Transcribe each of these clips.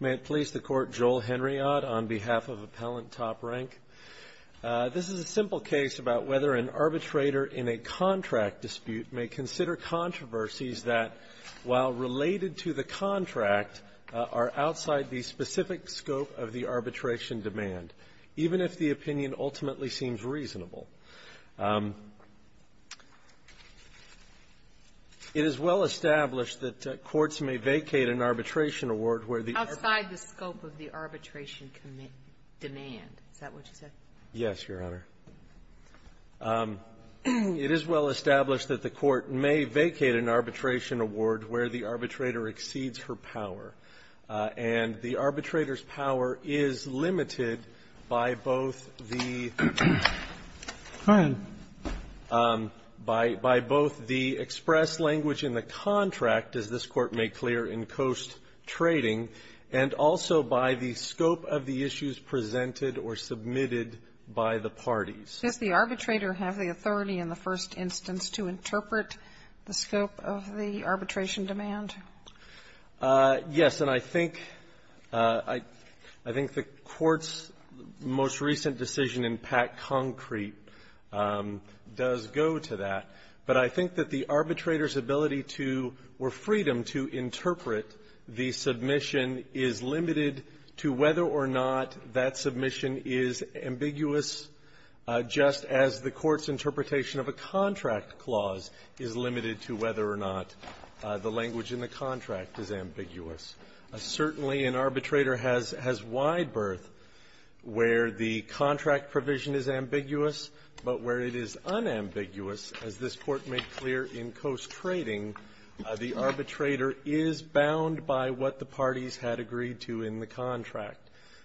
May it please the Court, Joel Henriad on behalf of Appellant Top Rank. This is a simple case about whether an arbitrator in a contract dispute may consider controversies that, while related to the contract, are outside the specific scope of the arbitration demand, even if the arbitration award where the arbitrator exceeds her power. And the arbitrator's power is limited by both the by both the express language in the contract, as this Court made clear in Coase's case, and the arbitrator's power outside the scope of the first trading, and also by the scope of the issues presented or submitted by the parties. Sotomayor, does the arbitrator have the authority in the first instance to interpret the scope of the arbitration demand? Yes. And I think I think the Court's most recent decision in Pack Concrete does go to that. But I think that the arbitrator's ability to or freedom to interpret the submission is limited to whether or not that submission is ambiguous, just as the Court's interpretation of a contract clause is limited to whether or not the language in the contract is ambiguous. Certainly, an arbitrator has has wide berth where the contract provision is ambiguous, but where it is unambiguous, as this Court made clear in Coase Trading, the arbitrator is bound by what the parties had agreed to in the contract.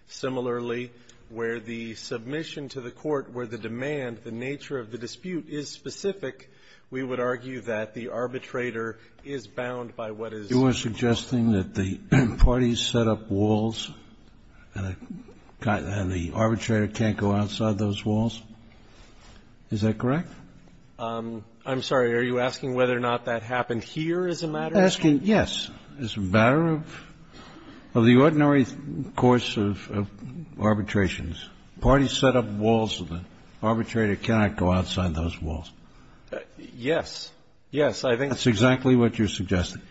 Similarly, where the submission to the court, where the demand, the nature of the dispute is specific, we would argue that the arbitrator is bound by what is. Are you suggesting that the parties set up walls and the arbitrator can't go outside those walls? Is that correct? I'm sorry. Are you asking whether or not that happened here as a matter? Asking, yes. As a matter of the ordinary course of arbitrations, parties set up walls and the arbitrator cannot go outside those walls. Yes. Yes. I think that's exactly what you're suggesting.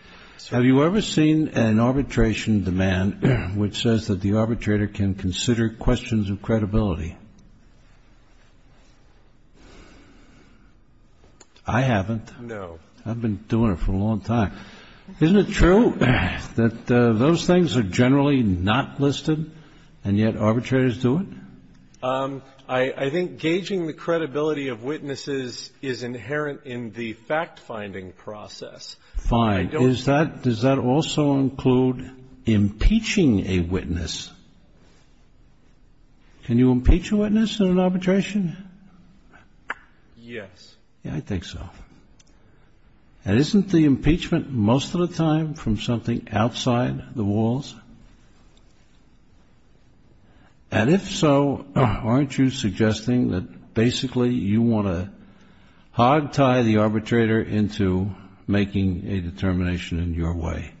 Have you ever seen an arbitration demand which says that the arbitrator can consider questions of credibility? I haven't. No. I've been doing it for a long time. Isn't it true that those things are generally not listed and yet arbitrators do it? I think gauging the credibility of witnesses is inherent in the fact-finding process. Fine. Does that also include impeaching a witness? Can you impeach a witness in an arbitration? Yes. I think so. And isn't the impeachment most of the time from something outside the walls? And if so, aren't you suggesting that basically you want to hog-tie the arbitrator into making a determination in your way?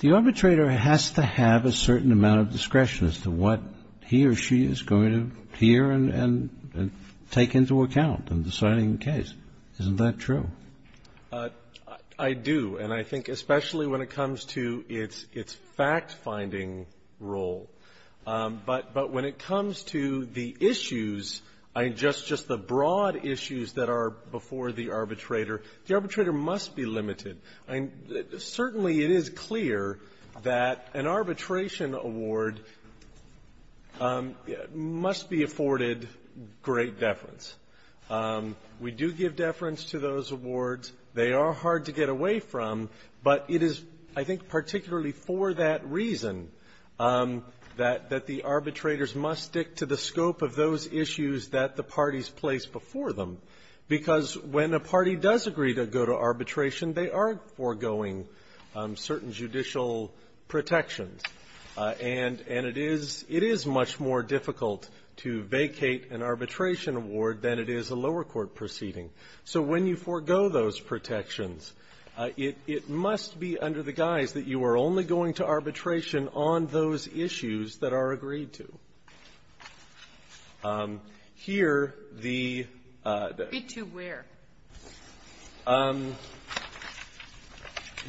The arbitrator has to have a certain amount of discretion as to what he or she is going to hear and take into account in deciding the case. Isn't that true? I do. And I think especially when it comes to its fact-finding role. But when it comes to the issues, I mean, just the broad issues that are before the arbitrator, the arbitrator must be limited. Certainly it is clear that an arbitration award must be afforded great deference. We do give deference to those awards. They are hard to get away from, but it is, I think, particularly for that reason that the arbitrators must stick to the scope of those issues that the parties place before them. Because when a party does agree to go to arbitration, they are foregoing certain judicial protections. And it is much more difficult to vacate an arbitration award than it is a lower court proceeding. So when you forego those protections, it must be under the guise that you are only going to arbitration on those issues that are agreed to. Here, the the ---- Be to where?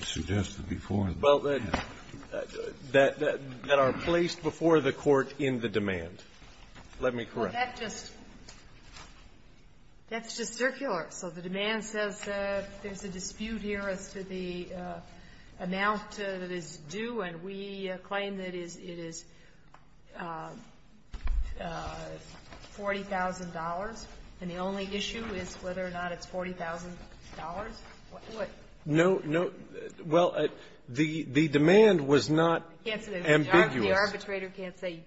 Suggested before. Well, that are placed before the Court in the demand. Let me correct. Well, that's just that's just circular. So the demand says there's a dispute here as to the amount that is due, and we claim that it is $40,000, and the only issue is whether or not it's $40,000? What? No, no. Well, the demand was not ambiguous. The arbitrator can't say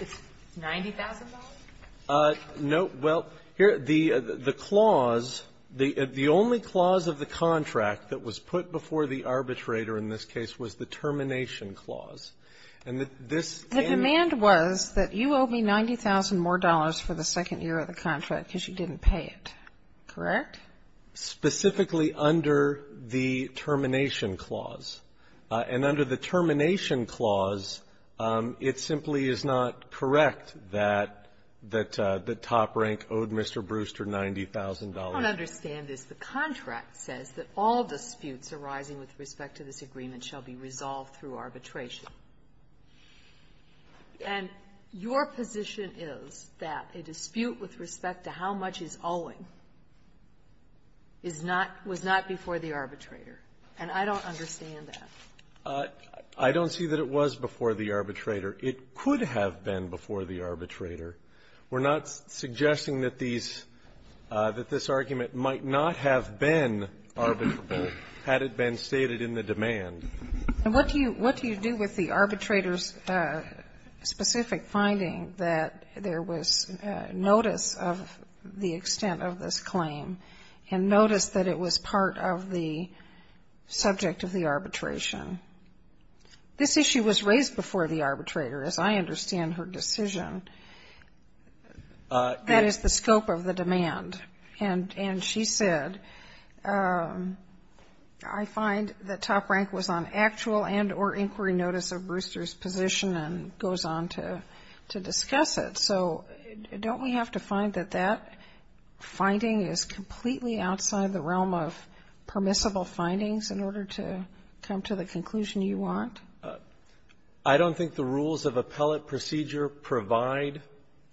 it's $90,000? No. Well, here, the clause, the only clause of the contract that was put before the arbitrator in this case was the termination clause. And this ---- The demand was that you owe me $90,000 more for the second year of the contract because you didn't pay it, correct? Specifically under the termination clause. And under the termination clause, it simply is not correct that the top rank owed Mr. Brewster $90,000. I don't understand this. The contract says that all disputes arising with respect to this agreement shall be resolved through arbitration. And your position is that a dispute with respect to how much he's owing is not ---- was not before the arbitrator. And I don't understand that. I don't see that it was before the arbitrator. It could have been before the arbitrator. We're not suggesting that these ---- that this argument might not have been arbitrable had it been stated in the demand. And what do you do with the arbitrator's specific finding that there was notice of the extent of this claim and notice that it was part of the subject of the arbitration This issue was raised before the arbitrator, as I understand her decision. That is, the scope of the demand. And she said, I find that top rank was on actual and or inquiry notice of Brewster's position and goes on to discuss it. So don't we have to find that that finding is completely outside the realm of permissible findings in order to come to the conclusion you want? I don't think the rules of appellate procedure provide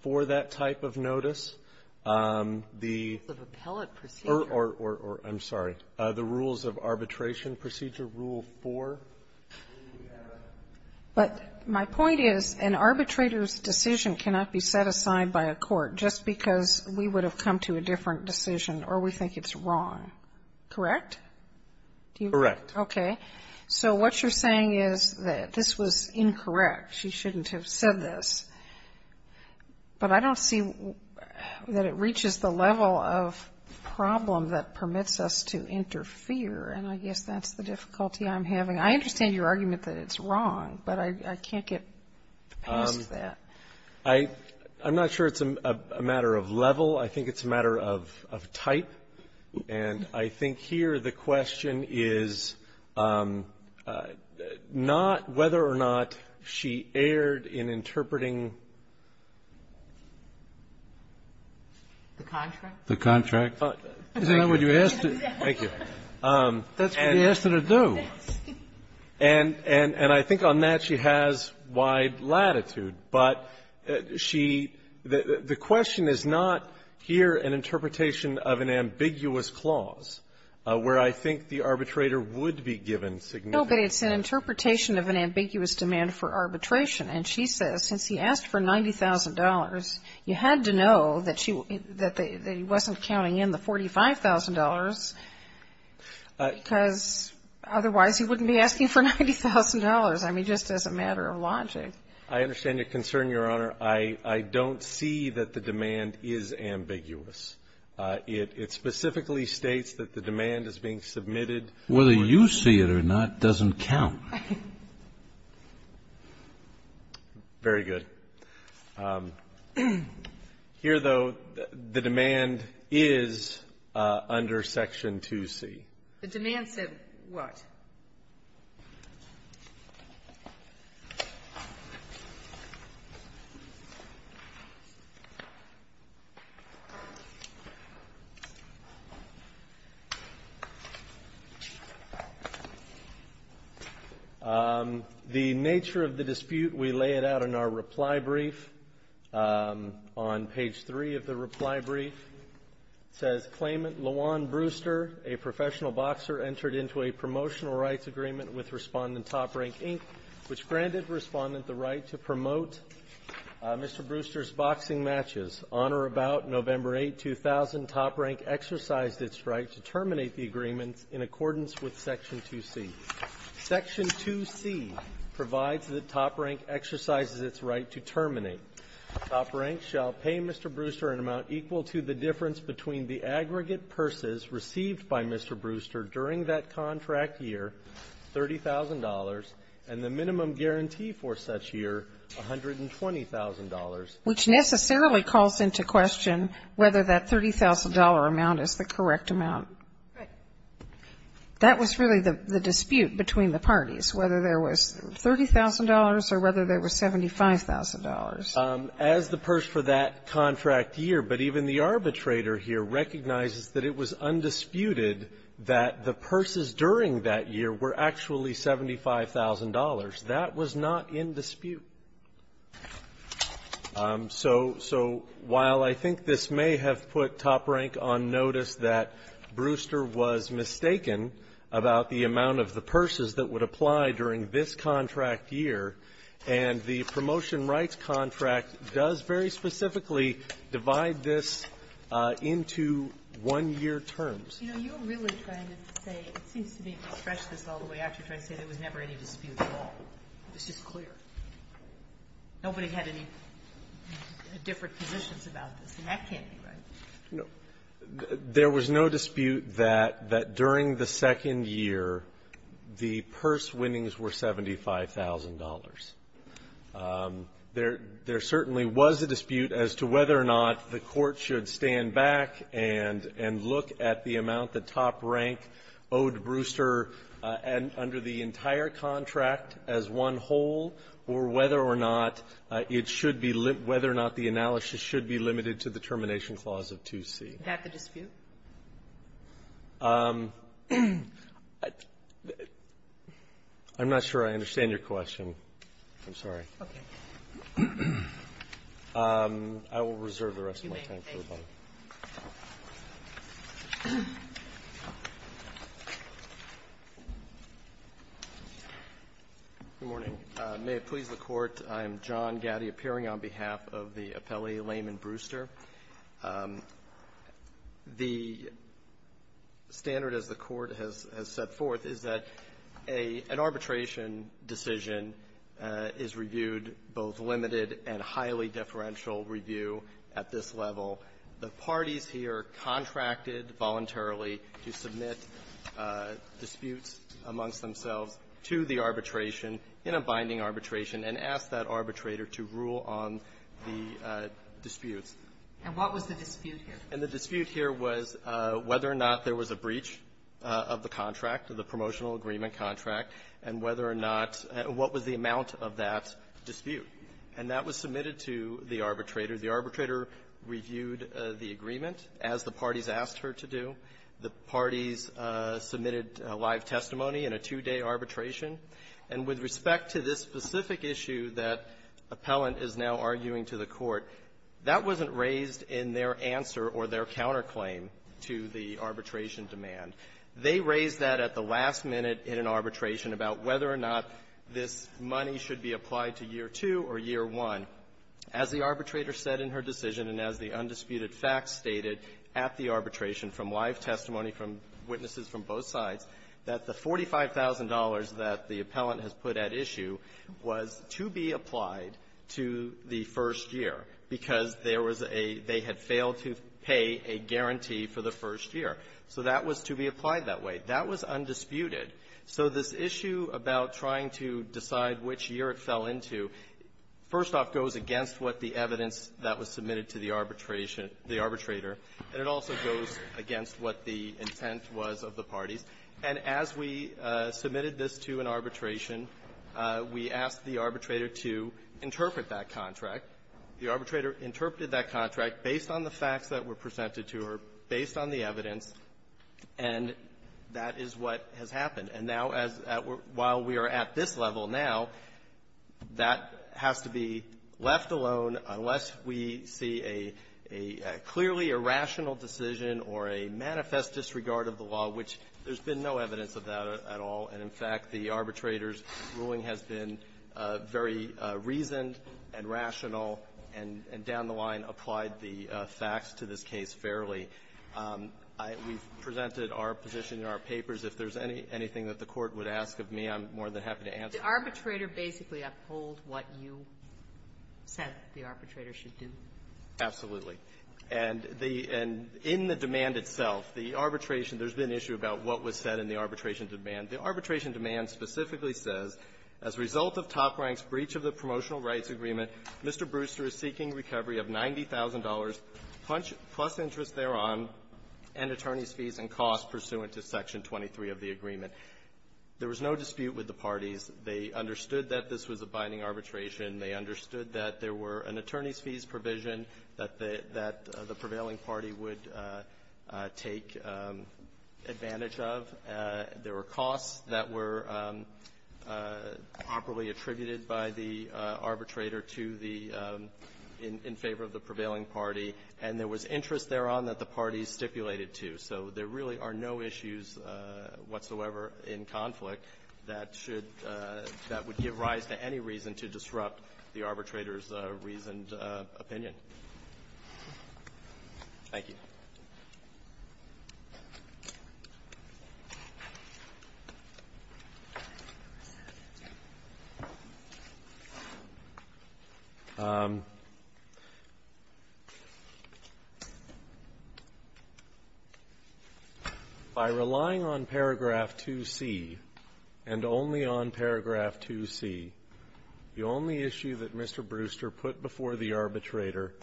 for that type of notice. The ---- The rules of appellate procedure. Or, I'm sorry. The rules of arbitration procedure, Rule 4. But my point is an arbitrator's decision cannot be set aside by a court just because we would have come to a different decision or we think it's wrong. Correct? Correct. Okay. So what you're saying is that this was incorrect. She shouldn't have said this. But I don't see that it reaches the level of problem that permits us to interfere. And I guess that's the difficulty I'm having. I understand your argument that it's wrong, but I can't get past that. I'm not sure it's a matter of level. I think it's a matter of type. And I think here the question is not whether or not she erred in interpreting the contract. The contract. Isn't that what you asked her to do? And I think on that, she has wide latitude. But she the question is not here an interpretation of an ambiguous clause where I think the arbitrator would be given significant. No, but it's an interpretation of an ambiguous demand for arbitration. And she says since he asked for $90,000, you had to know that she that he wasn't counting in the $45,000 because otherwise he wouldn't be asking for $90,000. I mean, just as a matter of logic. I understand your concern, Your Honor. I don't see that the demand is ambiguous. It specifically states that the demand is being submitted. Whether you see it or not doesn't count. Very good. Here, though, the demand is under Section 2C. The demand said what? The nature of the dispute, we lay it out in our reply brief. On page 3 of the reply brief, it says claimant LaJuan Brewster, a professional boxer, entered into a promotional rights agreement with Respondent Top Rank, Inc., which granted Respondent the right to promote Mr. Brewster's boxing matches. On or about November 8, 2000, Top Rank exercised its right to terminate the agreement in accordance with Section 2C. Section 2C provides that Top Rank exercises its right to terminate. Top Rank shall pay Mr. Brewster an amount equal to the difference between the aggregate purses received by Mr. Brewster during that contract year, $30,000, and the minimum guarantee for such year, $120,000. Which necessarily calls into question whether that $30,000 amount is the correct amount. Right. That was really the dispute between the parties, whether there was $30,000 or whether there was $75,000. As the purse for that contract year, but even the arbitrator here recognizes that it was undisputed that the purses during that year were actually $75,000. That was not in dispute. So, while I think this may have put Top Rank on notice that Brewster was mistaken about the amount of the purses that would apply during this contract year and the promotion rights contract does very specifically divide this into one-year terms. You know, you're really trying to say, it seems to me, to stretch this all the way out, you're trying to say there was never any dispute at all. It's just clear. Nobody had any different positions about this, and that can't be right. No. There was no dispute that during the second year, the purse winnings were $75,000. There certainly was a dispute as to whether or not the Court should stand back and look at the amount that Top Rank owed Brewster under the entire contract as one whole or whether or not it should be limited, whether or not the analysis should be limited to the Termination Clause of 2C. Is that the dispute? I'm not sure I understand your question. I'm sorry. Okay. I will reserve the rest of my time for the bottom. Good morning. May it please the Court, I am John Gatti, appearing on behalf of the appellee Laman Brewster. The standard, as the Court has set forth, is that an arbitration decision is reviewed both limited and highly deferential review at this level. The parties here contracted voluntarily to submit disputes amongst themselves to the arbitration in a binding arbitration and asked that arbitrator to rule on the disputes. And what was the dispute here? And the dispute here was whether or not there was a breach of the contract, of the promotional agreement contract, and whether or not what was the amount of that dispute. And that was submitted to the arbitrator. The arbitrator reviewed the agreement as the parties asked her to do. The parties submitted live testimony in a two-day arbitration. However, that wasn't raised in their answer or their counterclaim to the arbitration demand. They raised that at the last minute in an arbitration about whether or not this money should be applied to year two or year one. As the arbitrator said in her decision and as the undisputed facts stated at the arbitration from live testimony from witnesses from both sides, that the $45,000 that the appellant has put at issue was to be applied to the first year because there was a they had failed to pay a guarantee for the first year. So that was to be applied that way. That was undisputed. So this issue about trying to decide which year it fell into, first off, goes against what the evidence that was submitted to the arbitration the arbitrator, and it also goes against what the intent was of the parties. And as we submitted this to an arbitration, we asked the arbitrator to interpret that contract. The arbitrator interpreted that contract based on the facts that were presented to her, based on the evidence, and that is what has happened. And now, as at we're at this level now, that has to be left alone unless we see a clearly irrational decision or a manifest disregard of the law, which there's no way that there's been no evidence of that at all. And, in fact, the arbitrator's ruling has been very reasoned and rational and down the line applied the facts to this case fairly. We've presented our position in our papers. If there's anything that the Court would ask of me, I'm more than happy to answer. Ginsburg. The arbitrator basically uphold what you said the arbitrator should do. Winsor. Absolutely. And the end in the demand itself, the arbitration, there's been an issue about what was said in the arbitration demand. The arbitration demand specifically says, as a result of Top Rank's breach of the Promotional Rights Agreement, Mr. Brewster is seeking recovery of $90,000 plus interest thereon and attorney's fees and costs pursuant to Section 23 of the agreement. There was no dispute with the parties. They understood that this was a binding arbitration. They understood that there were an attorney's fees provision that the prevailing party would take advantage of. There were costs that were properly attributed by the arbitrator to the – in favor of the prevailing party, and there was interest thereon that the parties stipulated to. So there really are no issues whatsoever in conflict that should – that would give rise to any reason to disrupt the arbitration or disrupt the arbitrator's reasoned opinion. Thank you. By relying on paragraph 2C and only on paragraph 2C, the only issue that Mr. Brewster arbitrator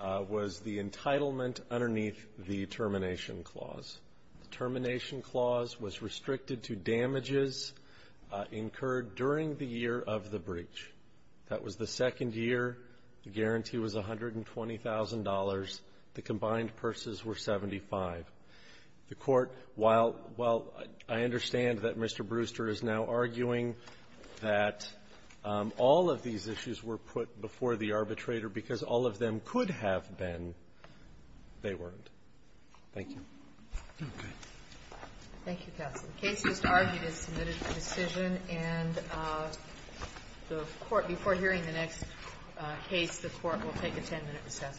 was the entitlement underneath the termination clause. The termination clause was restricted to damages incurred during the year of the breach. That was the second year. The guarantee was $120,000. The combined purses were 75. The Court, while – while I understand that Mr. Brewster is now arguing that all of these issues were put before the arbitrator because all of them could have been, they weren't. Thank you. Roberts. Thank you, counsel. The case just argued is submitted for decision. And the Court, before hearing the next case, the Court will take a 10-minute recess.